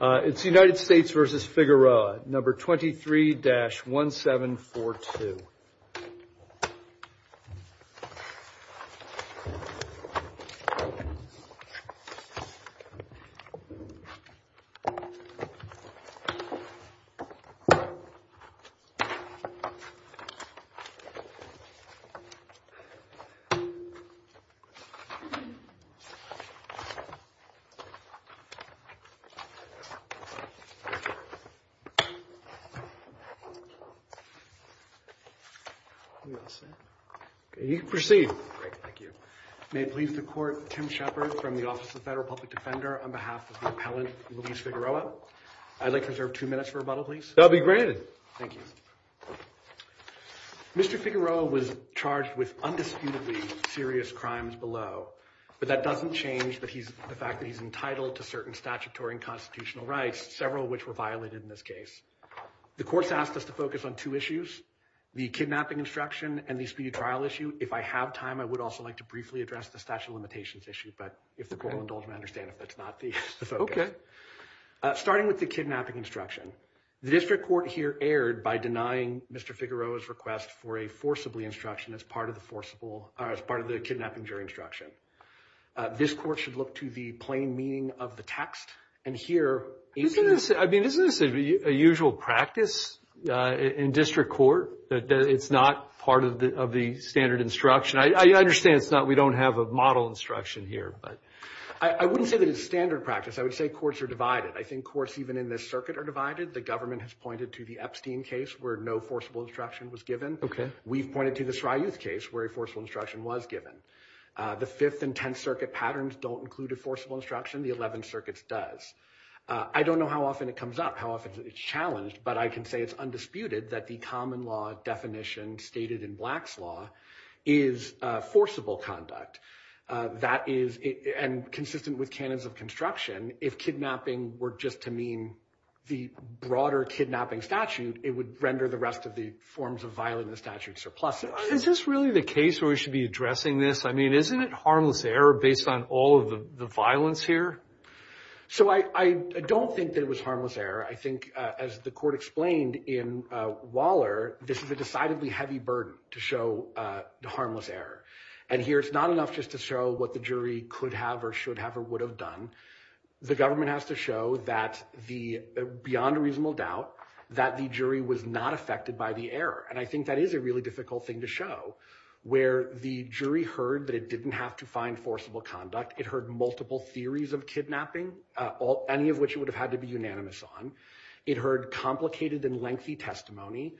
It's the United States versus Figueroa, number 23-1742. May it please the Court, Tim Shepard from the Office of the Federal Public Defender on behalf of the appellant Luis Figueroa. I'd like to reserve two minutes for rebuttal, please. That will be granted. Thank you. Mr. Figueroa was charged with undisputedly serious crimes below, but that doesn't change the fact that he's entitled to certain statutory and constitutional rights, several of which were violated in this case. The Court's asked us to focus on two issues, the kidnapping instruction and the speedy trial issue. If I have time, I would also like to briefly address the statute of limitations issue, but if the Court will indulge me, I understand if that's not the focus. Starting with the kidnapping instruction, the district court here erred by denying Mr. Figueroa's request for a forcibly instruction as part of the kidnapping jury instruction. This Court should look to the plain meaning of the text, and here, 18- I mean, isn't this a usual practice in district court, that it's not part of the standard instruction? I understand it's not, we don't have a model instruction here, but- I wouldn't say that it's standard practice. I would say courts are divided. I think courts, even in this circuit, are divided. The government has pointed to the Epstein case where no forcible instruction was given. We've pointed to the Sryuth case where a forcible instruction was given. The 5th and 10th circuit patterns don't include a forcible instruction. The 11th circuit does. I don't know how often it comes up, how often it's challenged, but I can say it's undisputed that the common law definition stated in Black's law is forcible conduct. That is, and consistent with canons of construction, if kidnapping were just to mean the broader kidnapping statute, it would render the rest of the forms of violence in the statute surplusive. Is this really the case where we should be addressing this? Isn't it harmless error based on all of the violence here? I don't think that it was harmless error. I think, as the court explained in Waller, this is a decidedly heavy burden to show the harmless error. Here, it's not enough just to show what the jury could have or should have or would have done. The government has to show that, beyond a reasonable doubt, that the jury was not affected by the error. And I think that is a really difficult thing to show, where the jury heard that it didn't have to find forcible conduct. It heard multiple theories of kidnapping, any of which it would have had to be unanimous on. It heard complicated and lengthy testimony,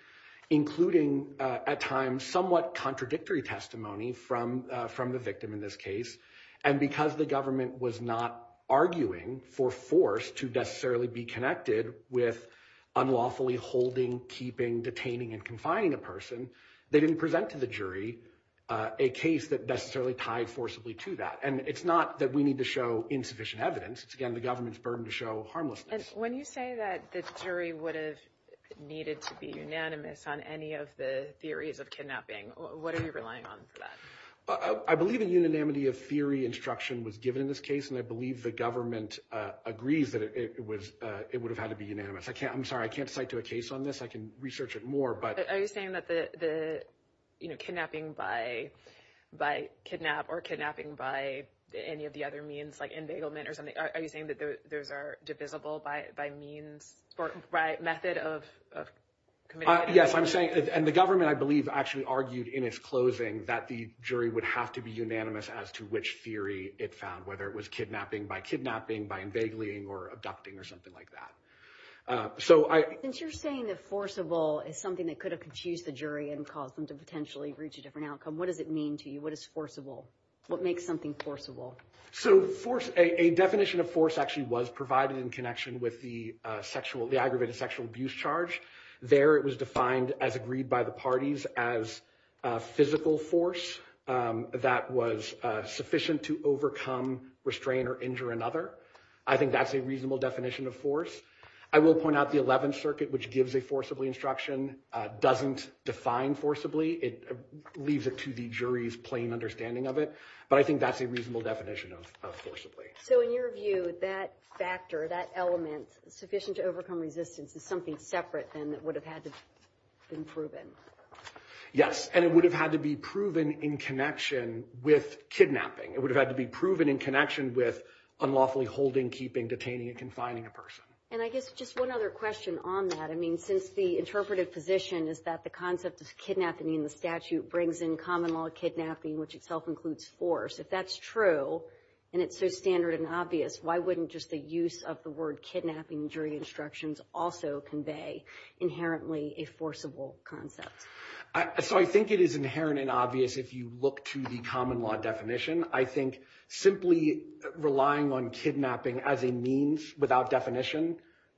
including at times somewhat contradictory testimony from the victim in this case. And because the government was not arguing for force to necessarily be connected with unlawfully holding, keeping, detaining, and confining a person, they didn't present to the jury a case that necessarily tied forcibly to that. And it's not that we need to show insufficient evidence. It's, again, the government's burden to show harmlessness. And when you say that the jury would have needed to be unanimous on any of the theories of kidnapping, what are you relying on for that? I believe a unanimity of theory instruction was given in this case, and I believe the government agrees that it would have had to be unanimous. I'm sorry, I can't cite to a case on this. I can research it more. Are you saying that the kidnapping by kidnap or kidnapping by any of the other means, like embegglement or something, are you saying that those are divisible by means or by method of committing it? Yes, I'm saying – and the government, I believe, actually argued in its closing that the jury would have to be unanimous as to which theory it found, whether it was kidnapping by kidnapping, by embeggling or abducting or something like that. Since you're saying that forcible is something that could have confused the jury and caused them to potentially reach a different outcome, what does it mean to you? What is forcible? What makes something forcible? So a definition of force actually was provided in connection with the aggravated sexual abuse charge. There it was defined as agreed by the parties as physical force that was sufficient to overcome, restrain, or injure another. I think that's a reasonable definition of force. I will point out the Eleventh Circuit, which gives a forcibly instruction, doesn't define forcibly. It leaves it to the jury's plain understanding of it. But I think that's a reasonable definition of forcibly. So in your view, that factor, that element, sufficient to overcome resistance, is something separate then that would have had to have been proven? Yes, and it would have had to be proven in connection with kidnapping. It would have had to be proven in connection with unlawfully holding, keeping, detaining, and confining a person. And I guess just one other question on that. I mean, since the interpretive position is that the concept of kidnapping in the statute brings in common law kidnapping, which itself includes force. If that's true, and it's so standard and obvious, why wouldn't just the use of the word kidnapping in jury instructions also convey inherently a forcible concept? So I think it is inherent and obvious if you look to the common law definition. I think simply relying on kidnapping as a means without definition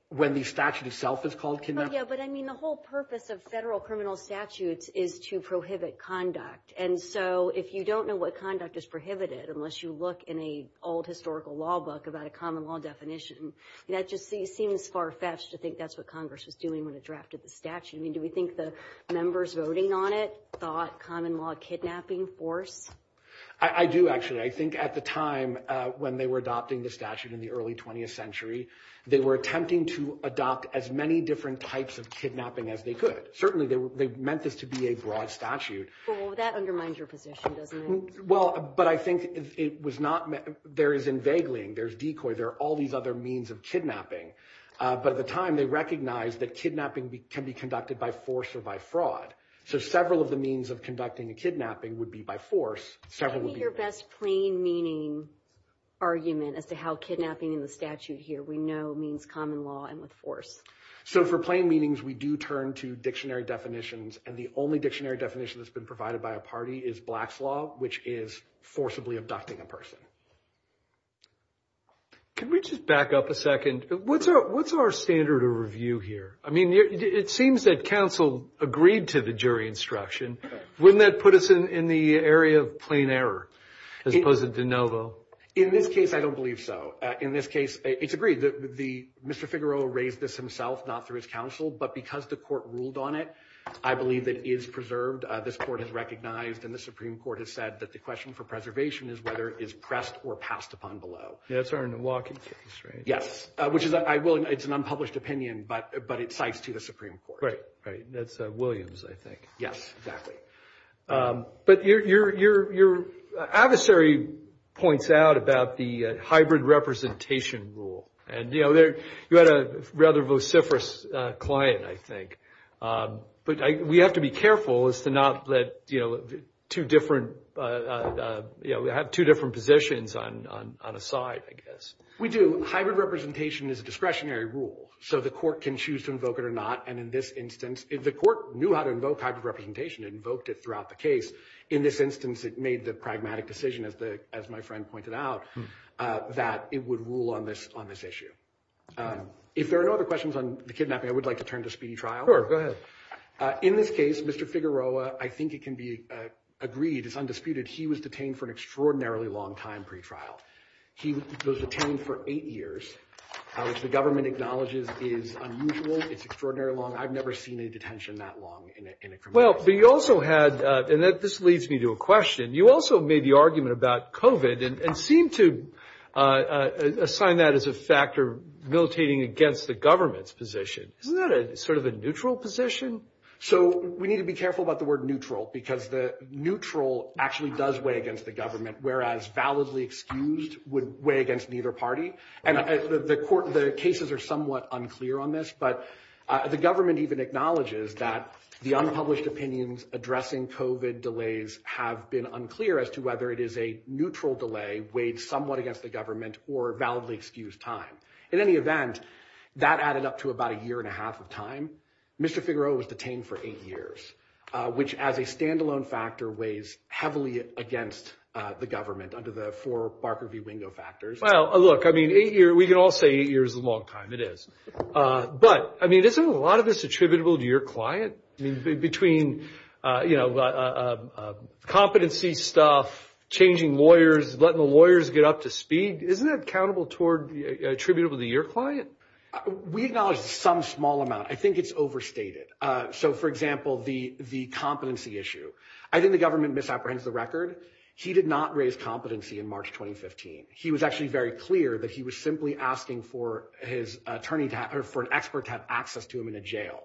when the statute itself is called kidnapping. Oh, yeah, but I mean the whole purpose of federal criminal statutes is to prohibit conduct. And so if you don't know what conduct is prohibited, unless you look in a old historical law book about a common law definition, that just seems far-fetched to think that's what Congress was doing when it drafted the statute. I mean, do we think the members voting on it thought common law kidnapping force? I do, actually. I think at the time when they were adopting the statute in the early 20th century, they were attempting to adopt as many different types of kidnapping as they could. Certainly, they meant this to be a broad statute. Well, that undermines your position, doesn't it? Well, but I think it was not – there is inveigling, there's decoy, there are all these other means of kidnapping. But at the time, they recognized that kidnapping can be conducted by force or by fraud. So several of the means of conducting a kidnapping would be by force. What would be your best plain meaning argument as to how kidnapping in the statute here we know means common law and with force? So for plain meanings, we do turn to dictionary definitions. And the only dictionary definition that's been provided by a party is Black's Law, which is forcibly abducting a person. Can we just back up a second? What's our standard of review here? I mean, it seems that counsel agreed to the jury instruction. Wouldn't that put us in the area of plain error as opposed to de novo? In this case, I don't believe so. In this case, it's agreed. Mr. Figueroa raised this himself, not through his counsel. But because the court ruled on it, I believe it is preserved. This court has recognized and the Supreme Court has said that the question for preservation is whether it is pressed or passed upon below. That's our Milwaukee case, right? Yes, which is – I will – it's an unpublished opinion, but it cites to the Supreme Court. Right, right. That's Williams, I think. Yes, exactly. But your adversary points out about the hybrid representation rule. And, you know, you had a rather vociferous client, I think. But we have to be careful as to not let two different – have two different positions on a side, I guess. We do. Hybrid representation is a discretionary rule. So the court can choose to invoke it or not. The court knew how to invoke hybrid representation. It invoked it throughout the case. In this instance, it made the pragmatic decision, as my friend pointed out, that it would rule on this issue. If there are no other questions on the kidnapping, I would like to turn to speedy trial. Sure, go ahead. In this case, Mr. Figueroa, I think it can be agreed, it's undisputed, he was detained for an extraordinarily long time pretrial. He was detained for eight years, which the government acknowledges is unusual. It's extraordinary long. I've never seen a detention that long in a criminal case. Well, but you also had – and this leads me to a question. You also made the argument about COVID and seemed to assign that as a factor militating against the government's position. Isn't that sort of a neutral position? So we need to be careful about the word neutral because the neutral actually does weigh against the government, whereas validly excused would weigh against neither party. The cases are somewhat unclear on this, but the government even acknowledges that the unpublished opinions addressing COVID delays have been unclear as to whether it is a neutral delay weighed somewhat against the government or validly excused time. In any event, that added up to about a year and a half of time. Mr. Figueroa was detained for eight years, which as a standalone factor weighs heavily against the government under the four Barker v. Wingo factors. Well, look, I mean, eight years – we can all say eight years is a long time. It is. But, I mean, isn't a lot of this attributable to your client? I mean, between, you know, competency stuff, changing lawyers, letting the lawyers get up to speed, isn't that accountable toward – attributable to your client? We acknowledge some small amount. I think it's overstated. So, for example, the competency issue. I think the government misapprehends the record. He did not raise competency in March 2015. He was actually very clear that he was simply asking for his attorney to have – or for an expert to have access to him in a jail.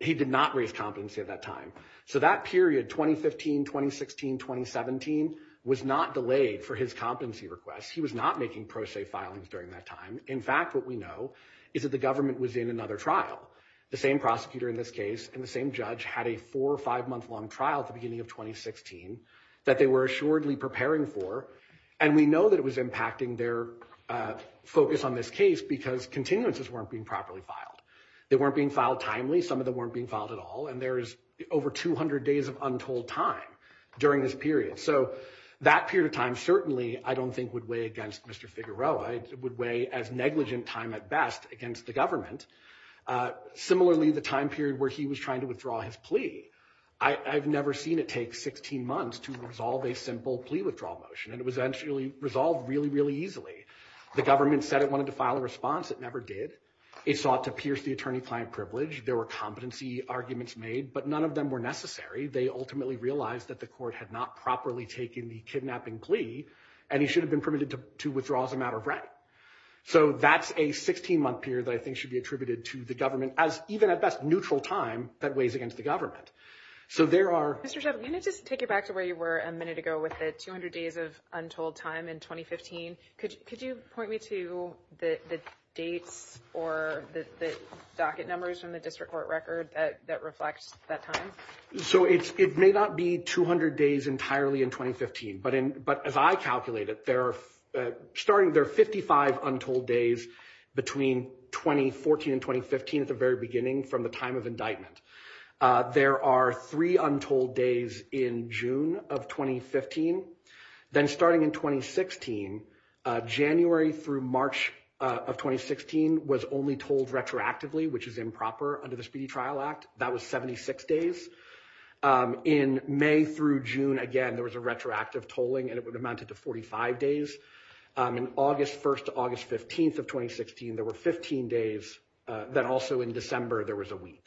He did not raise competency at that time. So that period, 2015, 2016, 2017, was not delayed for his competency requests. He was not making pro se filings during that time. In fact, what we know is that the government was in another trial. The same prosecutor in this case and the same judge had a four- or five-month-long trial at the beginning of 2016 that they were assuredly preparing for. And we know that it was impacting their focus on this case because continuances weren't being properly filed. They weren't being filed timely. Some of them weren't being filed at all. And there is over 200 days of untold time during this period. So that period of time certainly I don't think would weigh against Mr. Figueroa. It would weigh as negligent time at best against the government. Similarly, the time period where he was trying to withdraw his plea, I've never seen it take 16 months to resolve a simple plea withdrawal motion. And it was eventually resolved really, really easily. The government said it wanted to file a response. It never did. It sought to pierce the attorney-client privilege. There were competency arguments made, but none of them were necessary. They ultimately realized that the court had not properly taken the kidnapping plea, and he should have been permitted to withdraw as a matter of right. So that's a 16-month period that I think should be attributed to the government as even at best neutral time that weighs against the government. Mr. Shephard, can I just take you back to where you were a minute ago with the 200 days of untold time in 2015? Could you point me to the dates or the docket numbers from the district court record that reflect that time? So it may not be 200 days entirely in 2015. But as I calculated, there are 55 untold days between 2014 and 2015 at the very beginning from the time of indictment. There are three untold days in June of 2015. Then starting in 2016, January through March of 2016 was only told retroactively, which is improper under the Speedy Trial Act. That was 76 days. In May through June, again, there was a retroactive tolling, and it amounted to 45 days. In August 1st to August 15th of 2016, there were 15 days. Then also in December, there was a week.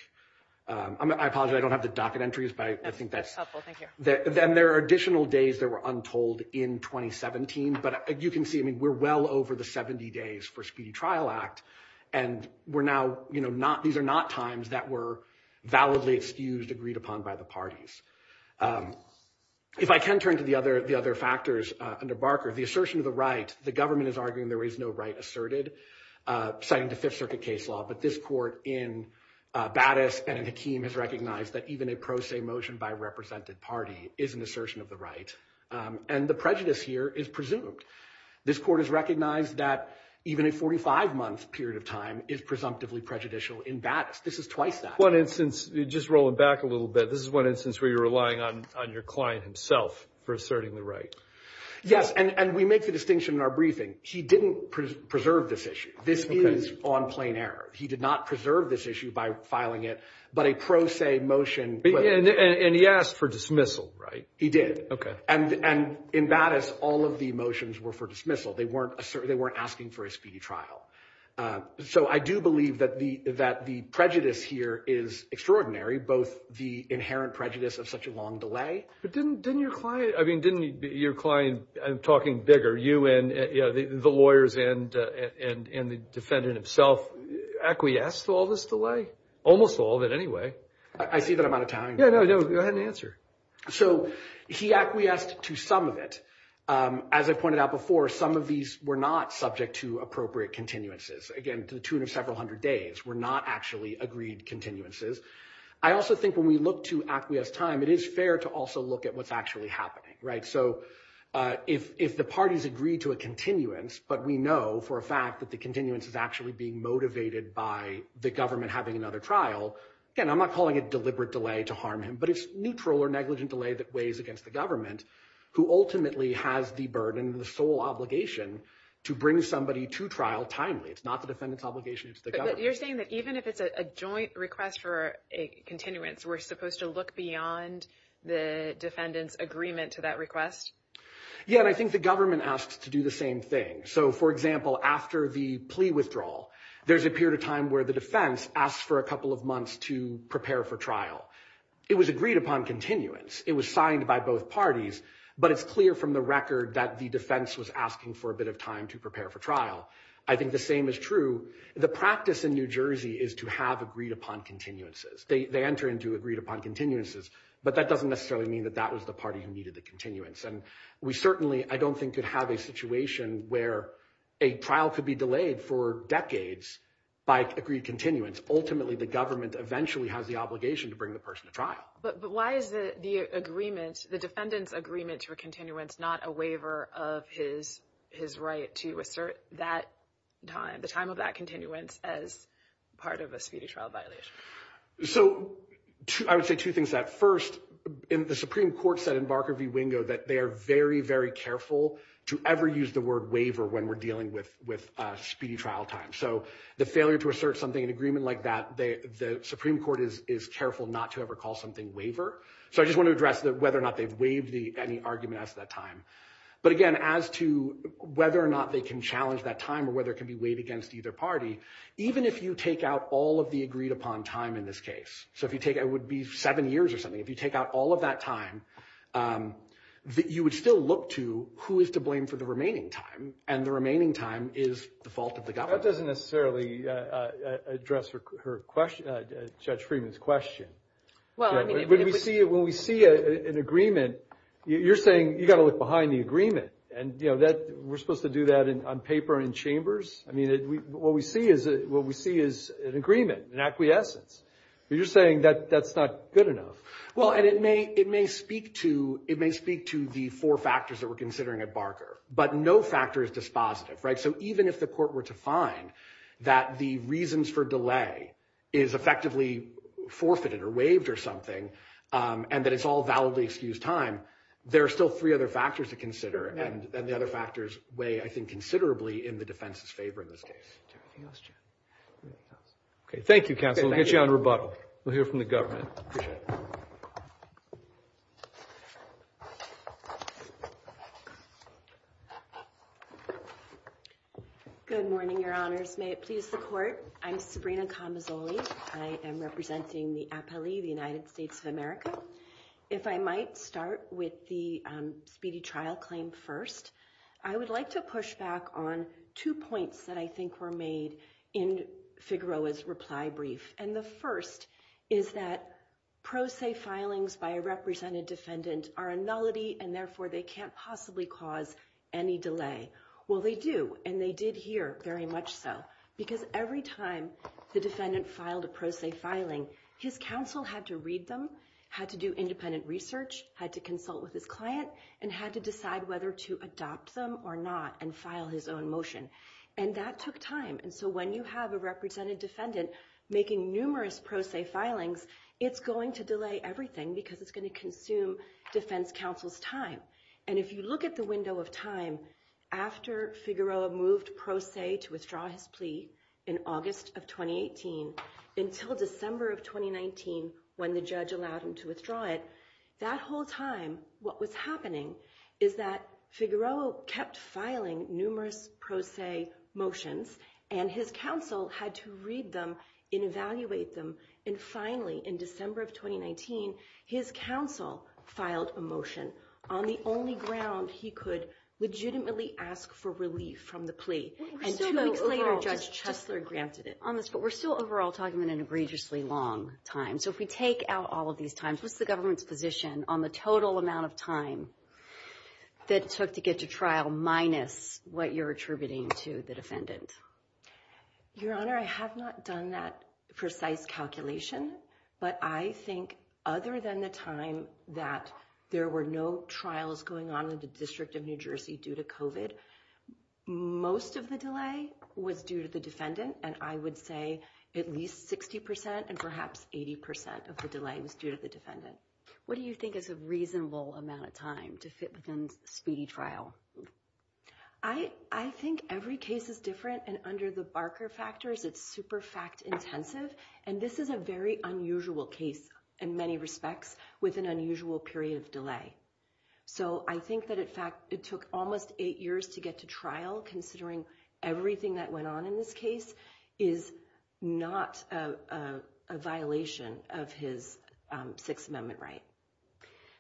I apologize, I don't have the docket entries, but I think that's helpful. Then there are additional days that were untold in 2017. But you can see, I mean, we're well over the 70 days for Speedy Trial Act. And we're now, you know, these are not times that were validly excused, agreed upon by the parties. If I can turn to the other factors under Barker, the assertion of the right. The government is arguing there is no right asserted, citing the Fifth Circuit case law. But this court in Battis and in Hakeem has recognized that even a pro se motion by a represented party is an assertion of the right. And the prejudice here is presumed. This court has recognized that even a 45-month period of time is presumptively prejudicial in Battis. This is twice that. One instance, just rolling back a little bit. This is one instance where you're relying on your client himself for asserting the right. Yes, and we make the distinction in our briefing. He didn't preserve this issue. This is on plain error. He did not preserve this issue by filing it, but a pro se motion. And he asked for dismissal, right? He did. And in Battis, all of the motions were for dismissal. They weren't asking for a speedy trial. So I do believe that the prejudice here is extraordinary, both the inherent prejudice of such a long delay. But didn't your client, I mean, didn't your client, I'm talking bigger, you and the lawyers and the defendant himself acquiesce to all this delay? Almost all of it anyway. I see that I'm out of time. Yeah, no, go ahead and answer. So he acquiesced to some of it. As I pointed out before, some of these were not subject to appropriate continuances. Again, to the tune of several hundred days were not actually agreed continuances. I also think when we look to acquiesce time, it is fair to also look at what's actually happening, right? So if the parties agree to a continuance, but we know for a fact that the continuance is actually being motivated by the government having another trial, again, I'm not calling it deliberate delay to harm him. But it's neutral or negligent delay that weighs against the government, who ultimately has the burden, the sole obligation to bring somebody to trial timely. It's not the defendant's obligation, it's the government's. But you're saying that even if it's a joint request for a continuance, we're supposed to look beyond the defendant's agreement to that request? Yeah, and I think the government asks to do the same thing. So for example, after the plea withdrawal, there's a period of time where the defense asks for a couple of months to prepare for trial. It was agreed upon continuance. It was signed by both parties. But it's clear from the record that the defense was asking for a bit of time to prepare for trial. I think the same is true. The practice in New Jersey is to have agreed upon continuances. They enter into agreed upon continuances. But that doesn't necessarily mean that that was the party who needed the continuance. And we certainly, I don't think, could have a situation where a trial could be delayed for decades by agreed continuance. Ultimately, the government eventually has the obligation to bring the person to trial. But why is the defendant's agreement to a continuance not a waiver of his right to assert the time of that continuance as part of a speedy trial violation? So I would say two things. First, the Supreme Court said in Barker v. Wingo that they are very, very careful to ever use the word waiver when we're dealing with speedy trial time. So the failure to assert something, an agreement like that, the Supreme Court is careful not to ever call something waiver. So I just want to address whether or not they've waived any argument as to that time. But again, as to whether or not they can challenge that time or whether it can be waived against either party, even if you take out all of the agreed upon time in this case. So if you take, it would be seven years or something. If you take out all of that time, you would still look to who is to blame for the remaining time. And the remaining time is the fault of the government. That doesn't necessarily address Judge Freeman's question. When we see an agreement, you're saying you've got to look behind the agreement. And we're supposed to do that on paper and in chambers? I mean, what we see is an agreement, an acquiescence. You're saying that that's not good enough. Well, and it may speak to the four factors that we're considering at Barker. But no factor is dispositive, right? So even if the court were to find that the reasons for delay is effectively forfeited or waived or something, and that it's all validly excused time, there are still three other factors to consider. And the other factors weigh, I think, considerably in the defense's favor in this case. Anything else, Jim? Anything else? OK, thank you, counsel. We'll get you on rebuttal. We'll hear from the government. Appreciate it. Good morning, your honors. May it please the court. I'm Sabrina Camazoli. I am representing the appellee, the United States of America. If I might start with the speedy trial claim first, I would like to push back on two points that I think were made in Figueroa's reply brief. And the first is that pro se filings by a represented defendant are a nullity, and therefore they can't possibly cause any delay. Well, they do, and they did here very much so. Because every time the defendant filed a pro se filing, his counsel had to read them, had to do independent research, had to consult with his client, and had to decide whether to adopt them or not and file his own motion. And that took time. And so when you have a represented defendant making numerous pro se filings, it's going to delay everything because it's going to consume defense counsel's time. And if you look at the window of time, after Figueroa moved pro se to withdraw his plea in August of 2018 until December of 2019 when the judge allowed him to withdraw it, that whole time what was happening is that Figueroa kept filing numerous pro se motions, and his counsel had to read them and evaluate them. And finally, in December of 2019, his counsel filed a motion on the only ground he could legitimately ask for relief from the plea. And two weeks later, Judge Chesler granted it. But we're still overall talking about an egregiously long time. So if we take out all of these times, what's the government's position on the total amount of time that it took to get to trial minus what you're attributing to the defendant? Your Honor, I have not done that precise calculation. But I think other than the time that there were no trials going on in the District of New Jersey due to COVID, most of the delay was due to the defendant. And I would say at least 60 percent and perhaps 80 percent of the delay was due to the defendant. What do you think is a reasonable amount of time to fit within speedy trial? I think every case is different. And under the Barker factors, it's super fact intensive. And this is a very unusual case in many respects with an unusual period of delay. So I think that, in fact, it took almost eight years to get to trial, considering everything that went on in this case is not a violation of his Sixth Amendment right.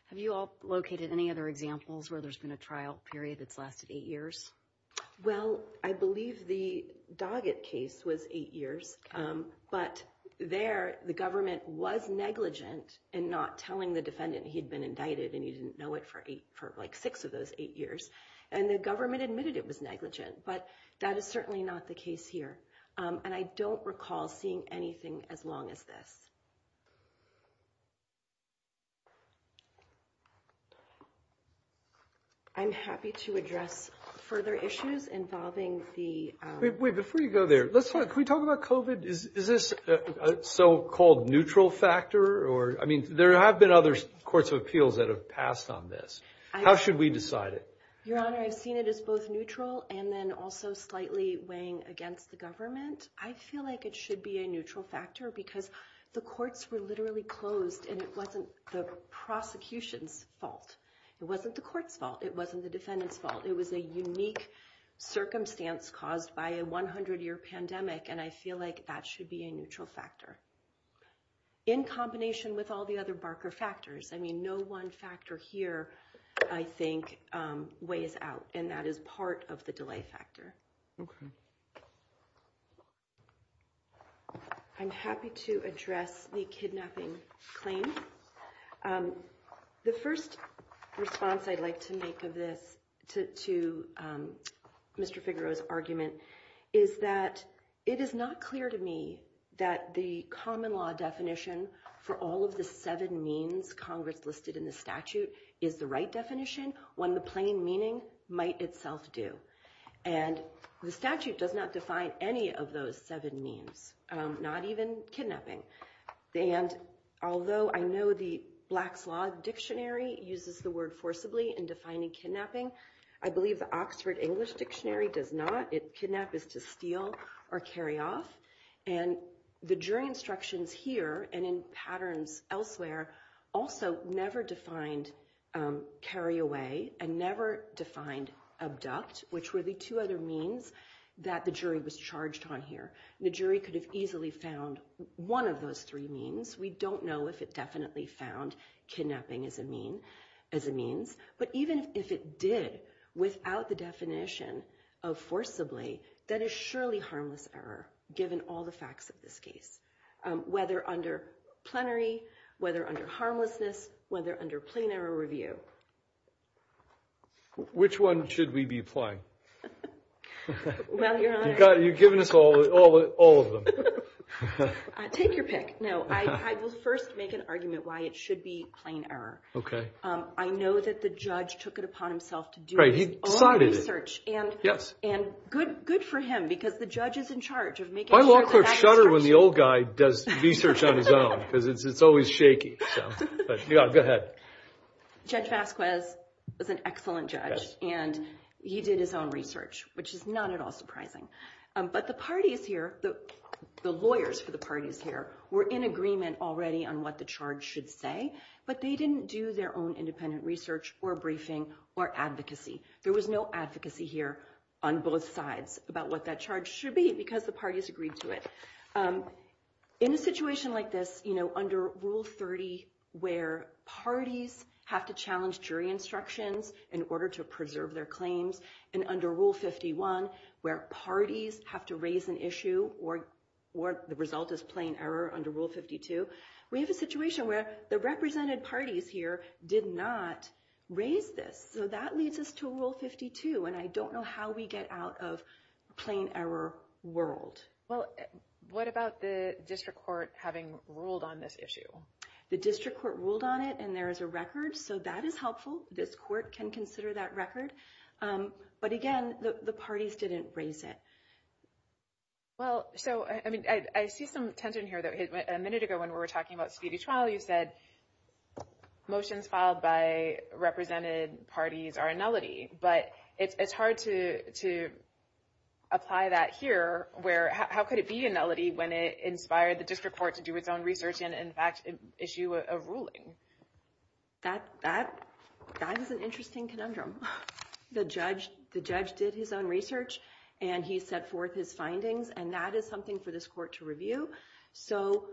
Have you all located any other examples where there's been a trial period that's lasted eight years? Well, I believe the Doggett case was eight years. But there the government was negligent in not telling the defendant he'd been indicted and he didn't know it for like six of those eight years. And the government admitted it was negligent. But that is certainly not the case here. And I don't recall seeing anything as long as this. I'm happy to address further issues involving the way before you go there. Let's talk. We talk about covid. Is this so-called neutral factor? Or I mean, there have been other courts of appeals that have passed on this. How should we decide it? Your Honor, I've seen it as both neutral and then also slightly weighing against the government. I feel like it should be a neutral factor because the courts were literally closed and it wasn't the prosecution's fault. It wasn't the court's fault. It wasn't the defendant's fault. It was a unique circumstance caused by a 100 year pandemic. And I feel like that should be a neutral factor. In combination with all the other Barker factors. I mean, no one factor here, I think, weighs out and that is part of the delay factor. OK. I'm happy to address the kidnapping claim. The first response I'd like to make of this to Mr. Figaro's argument is that it is not clear to me that the common law definition for all of the seven means Congress listed in the statute is the right definition when the plain meaning might itself do. And the statute does not define any of those seven means, not even kidnapping. And although I know the Black's Law Dictionary uses the word forcibly in defining kidnapping, I believe the Oxford English Dictionary does not. Kidnap is to steal or carry off. And the jury instructions here and in patterns elsewhere also never defined carry away and never defined abduct, which were the two other means that the jury was charged on here. The jury could have easily found one of those three means. We don't know if it definitely found kidnapping as a mean as a means. But even if it did, without the definition of forcibly, that is surely harmless error. Given all the facts of this case, whether under plenary, whether under harmlessness, whether under plain error review. Which one should we be playing? Well, you're giving us all all of them. Take your pick. No, I will first make an argument why it should be plain error. OK, I know that the judge took it upon himself to do research. And yes, and good, good for him because the judge is in charge of making sure when the old guy does research on his own because it's always shaky. Go ahead. Judge Vasquez was an excellent judge and he did his own research, which is not at all surprising. But the parties here, the lawyers for the parties here were in agreement already on what the charge should say. But they didn't do their own independent research or briefing or advocacy. There was no advocacy here on both sides about what that charge should be because the parties agreed to it in a situation like this. You know, under Rule 30, where parties have to challenge jury instructions in order to preserve their claims. And under Rule 51, where parties have to raise an issue or or the result is plain error under Rule 52. We have a situation where the represented parties here did not raise this. So that leads us to Rule 52. And I don't know how we get out of plain error world. Well, what about the district court having ruled on this issue? The district court ruled on it and there is a record. So that is helpful. This court can consider that record. But again, the parties didn't raise it. Well, so I mean, I see some tension here, though, a minute ago when we were talking about speedy trial, you said motions filed by represented parties are a nullity. But it's hard to to apply that here. Where how could it be a nullity when it inspired the district court to do its own research and, in fact, issue a ruling? That that that is an interesting conundrum. The judge, the judge did his own research and he set forth his findings. And that is something for this court to review. So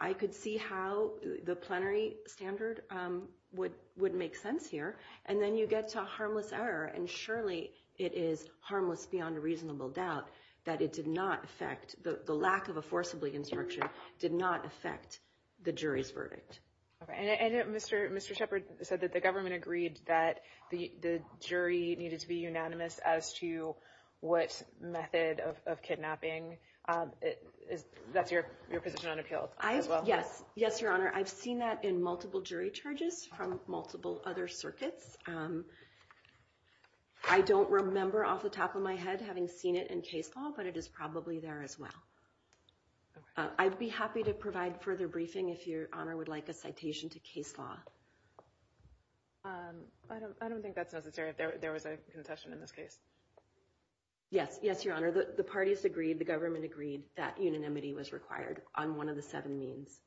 I could see how the plenary standard would would make sense here. And then you get to a harmless error and surely it is harmless beyond a reasonable doubt that it did not affect the lack of a forcibly instruction did not affect the jury's verdict. And Mr. Mr. Shepard said that the government agreed that the jury needed to be unanimous as to what method of kidnapping it is. That's your your position on appeal. Yes. Yes, your honor. I've seen that in multiple jury charges from multiple other circuits. I don't remember off the top of my head having seen it in case law, but it is probably there as well. I'd be happy to provide further briefing if your honor would like a citation to case law. I don't I don't think that's necessary. There was a contention in this case. Yes. Yes, your honor. The parties agreed. The government agreed that unanimity was required on one of the seven means.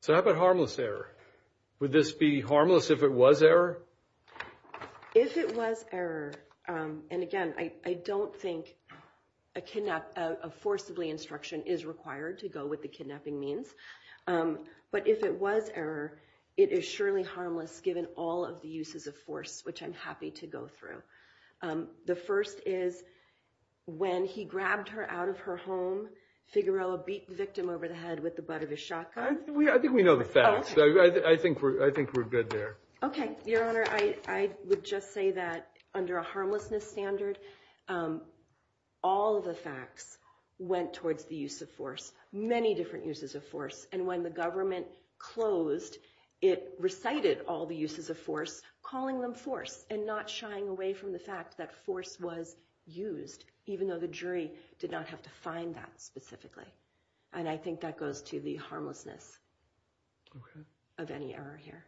So how about harmless error? Would this be harmless if it was error? If it was error. And again, I don't think a kidnap a forcibly instruction is required to go with the kidnapping means. But if it was error, it is surely harmless given all of the uses of force, which I'm happy to go through. The first is when he grabbed her out of her home. Figueroa beat victim over the head with the butt of a shotgun. I think we know the facts. I think I think we're good there. OK, your honor. I would just say that under a harmlessness standard, all the facts went towards the use of force, many different uses of force. And when the government closed, it recited all the uses of force, calling them force and not shying away from the fact that force was used, even though the jury did not have to find that specifically. And I think that goes to the harmlessness of any error here.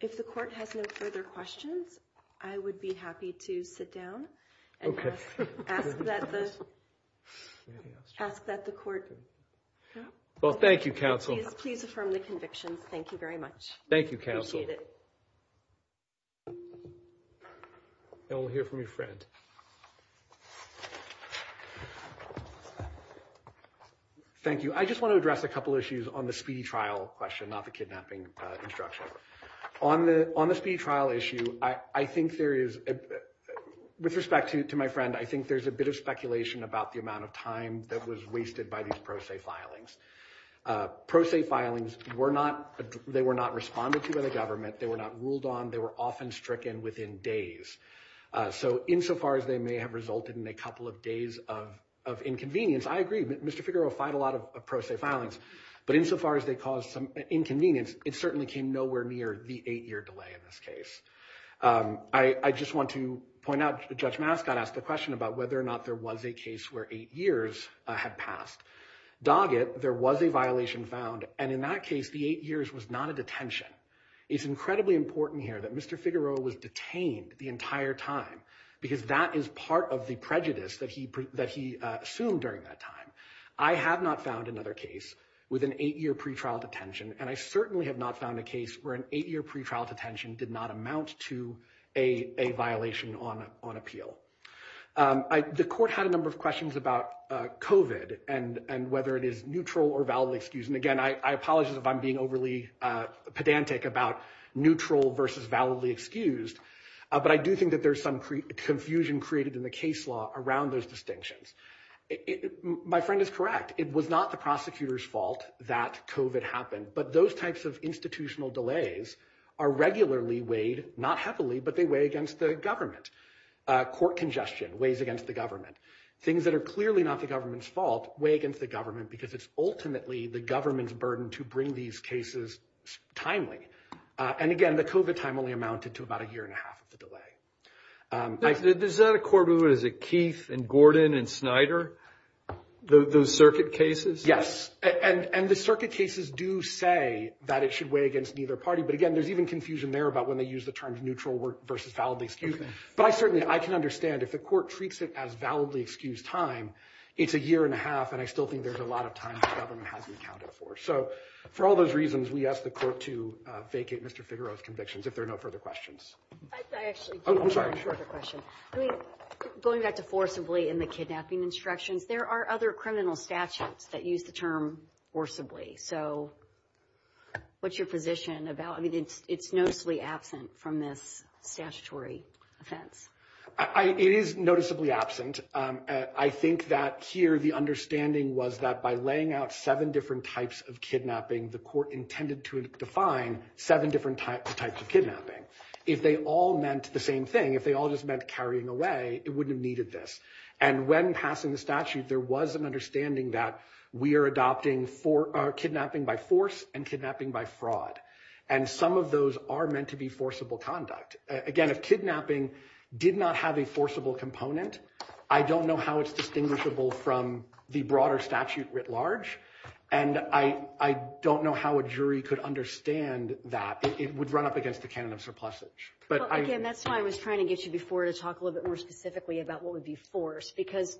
If the court has no further questions, I would be happy to sit down and ask that the court. Well, thank you, counsel. Please affirm the conviction. Thank you very much. Thank you, counsel. We'll hear from your friend. Thank you. I just want to address a couple of issues on the speedy trial question, not the kidnapping instruction on the on the speed trial issue. I think there is, with respect to my friend, I think there's a bit of speculation about the amount of time that was wasted by these pro se filings. Pro se filings were not they were not responded to by the government. They were not ruled on. They were often stricken within days. So insofar as they may have resulted in a couple of days of of inconvenience, I agree. Mr. Figueroa filed a lot of pro se filings. But insofar as they caused some inconvenience, it certainly came nowhere near the eight year delay in this case. I just want to point out, Judge Mascott asked the question about whether or not there was a case where eight years had passed. Dog it. There was a violation found. And in that case, the eight years was not a detention. It's incredibly important here that Mr. Figueroa was detained the entire time because that is part of the prejudice that he that he assumed during that time. I have not found another case with an eight year pretrial detention and I certainly have not found a case where an eight year pretrial detention did not amount to a violation on on appeal. The court had a number of questions about covid and and whether it is neutral or valid excuse. And again, I apologize if I'm being overly pedantic about neutral versus validly excused. But I do think that there's some confusion created in the case law around those distinctions. My friend is correct. It was not the prosecutor's fault that covid happened. But those types of institutional delays are regularly weighed, not heavily, but they weigh against the government. Court congestion weighs against the government. Things that are clearly not the government's fault weigh against the government because it's ultimately the government's burden to bring these cases timely. And again, the covid time only amounted to about a year and a half of the delay. Does that accord with Keith and Gordon and Snyder, those circuit cases? Yes. And the circuit cases do say that it should weigh against neither party. But again, there's even confusion there about when they use the term neutral versus validly excused. But I certainly I can understand if the court treats it as validly excused time. It's a year and a half. And I still think there's a lot of time the government hasn't accounted for. So for all those reasons, we ask the court to vacate Mr. Figaro's convictions if there are no further questions. I actually I'm sorry for the question. Going back to forcibly in the kidnapping instructions, there are other criminal statutes that use the term forcibly. So what's your position about it? It's noticeably absent from this statutory offense. It is noticeably absent. I think that here the understanding was that by laying out seven different types of kidnapping, the court intended to define seven different types of kidnapping. If they all meant the same thing, if they all just meant carrying away, it wouldn't have needed this. And when passing the statute, there was an understanding that we are adopting for kidnapping by force and kidnapping by fraud. And some of those are meant to be forcible conduct. Again, if kidnapping did not have a forcible component, I don't know how it's distinguishable from the broader statute writ large. And I don't know how a jury could understand that it would run up against the canon of surplusage. But again, that's why I was trying to get you before to talk a little bit more specifically about what would be forced because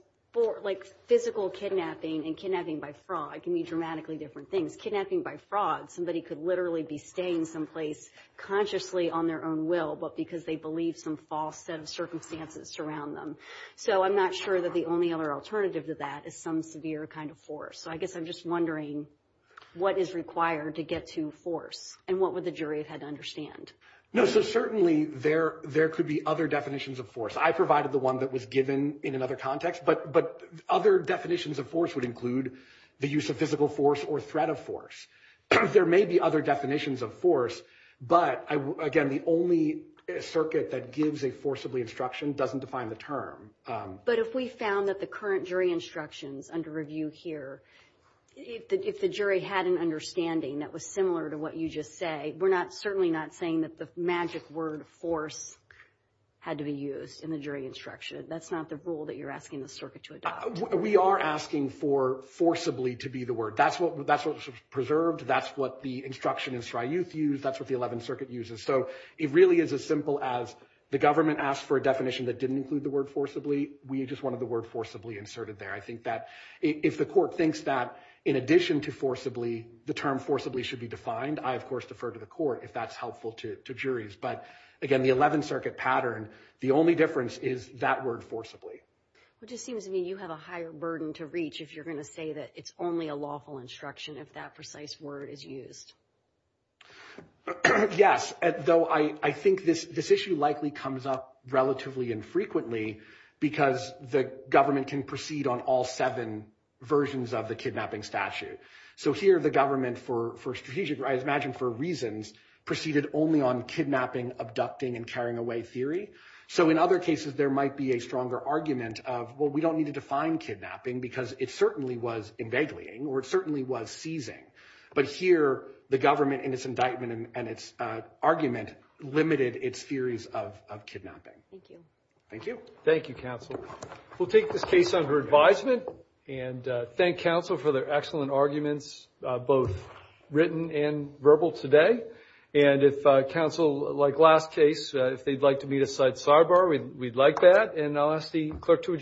like physical kidnapping and kidnapping by fraud can be dramatically different things. Kidnapping by fraud. Somebody could literally be staying someplace consciously on their own will, but because they believe some false set of circumstances surround them. So I'm not sure that the only other alternative to that is some severe kind of force. So I guess I'm just wondering what is required to get to force and what would the jury had to understand? No. So certainly there there could be other definitions of force. I provided the one that was given in another context. But but other definitions of force would include the use of physical force or threat of force. There may be other definitions of force. But again, the only circuit that gives a forcibly instruction doesn't define the term. But if we found that the current jury instructions under review here, if the jury had an understanding that was similar to what you just say, we're not certainly not saying that the magic word force had to be used in the jury instruction. That's not the rule that you're asking the circuit to adopt. We are asking for forcibly to be the word. That's what that's preserved. That's what the instruction is. That's what the 11th Circuit uses. So it really is as simple as the government asked for a definition that didn't include the word forcibly. We just wanted the word forcibly inserted there. I think that if the court thinks that in addition to forcibly, the term forcibly should be defined. I, of course, defer to the court if that's helpful to juries. But again, the 11th Circuit pattern, the only difference is that word forcibly. It just seems to me you have a higher burden to reach if you're going to say that it's only a lawful instruction. If that precise word is used. Yes. Though I think this this issue likely comes up relatively infrequently because the government can proceed on all seven versions of the kidnapping statute. So here the government for strategic rights, imagine for reasons, proceeded only on kidnapping, abducting and carrying away theory. So in other cases, there might be a stronger argument of, well, we don't need to define kidnapping because it certainly was invading or it certainly was seizing. But here the government in its indictment and its argument limited its theories of kidnapping. Thank you. Thank you. Thank you, counsel. We'll take this case under advisement and thank counsel for their excellent arguments, both written and verbal today. And if counsel like last case, if they'd like to meet a side sidebar, we'd like that. And I'll ask the clerk to adjourn.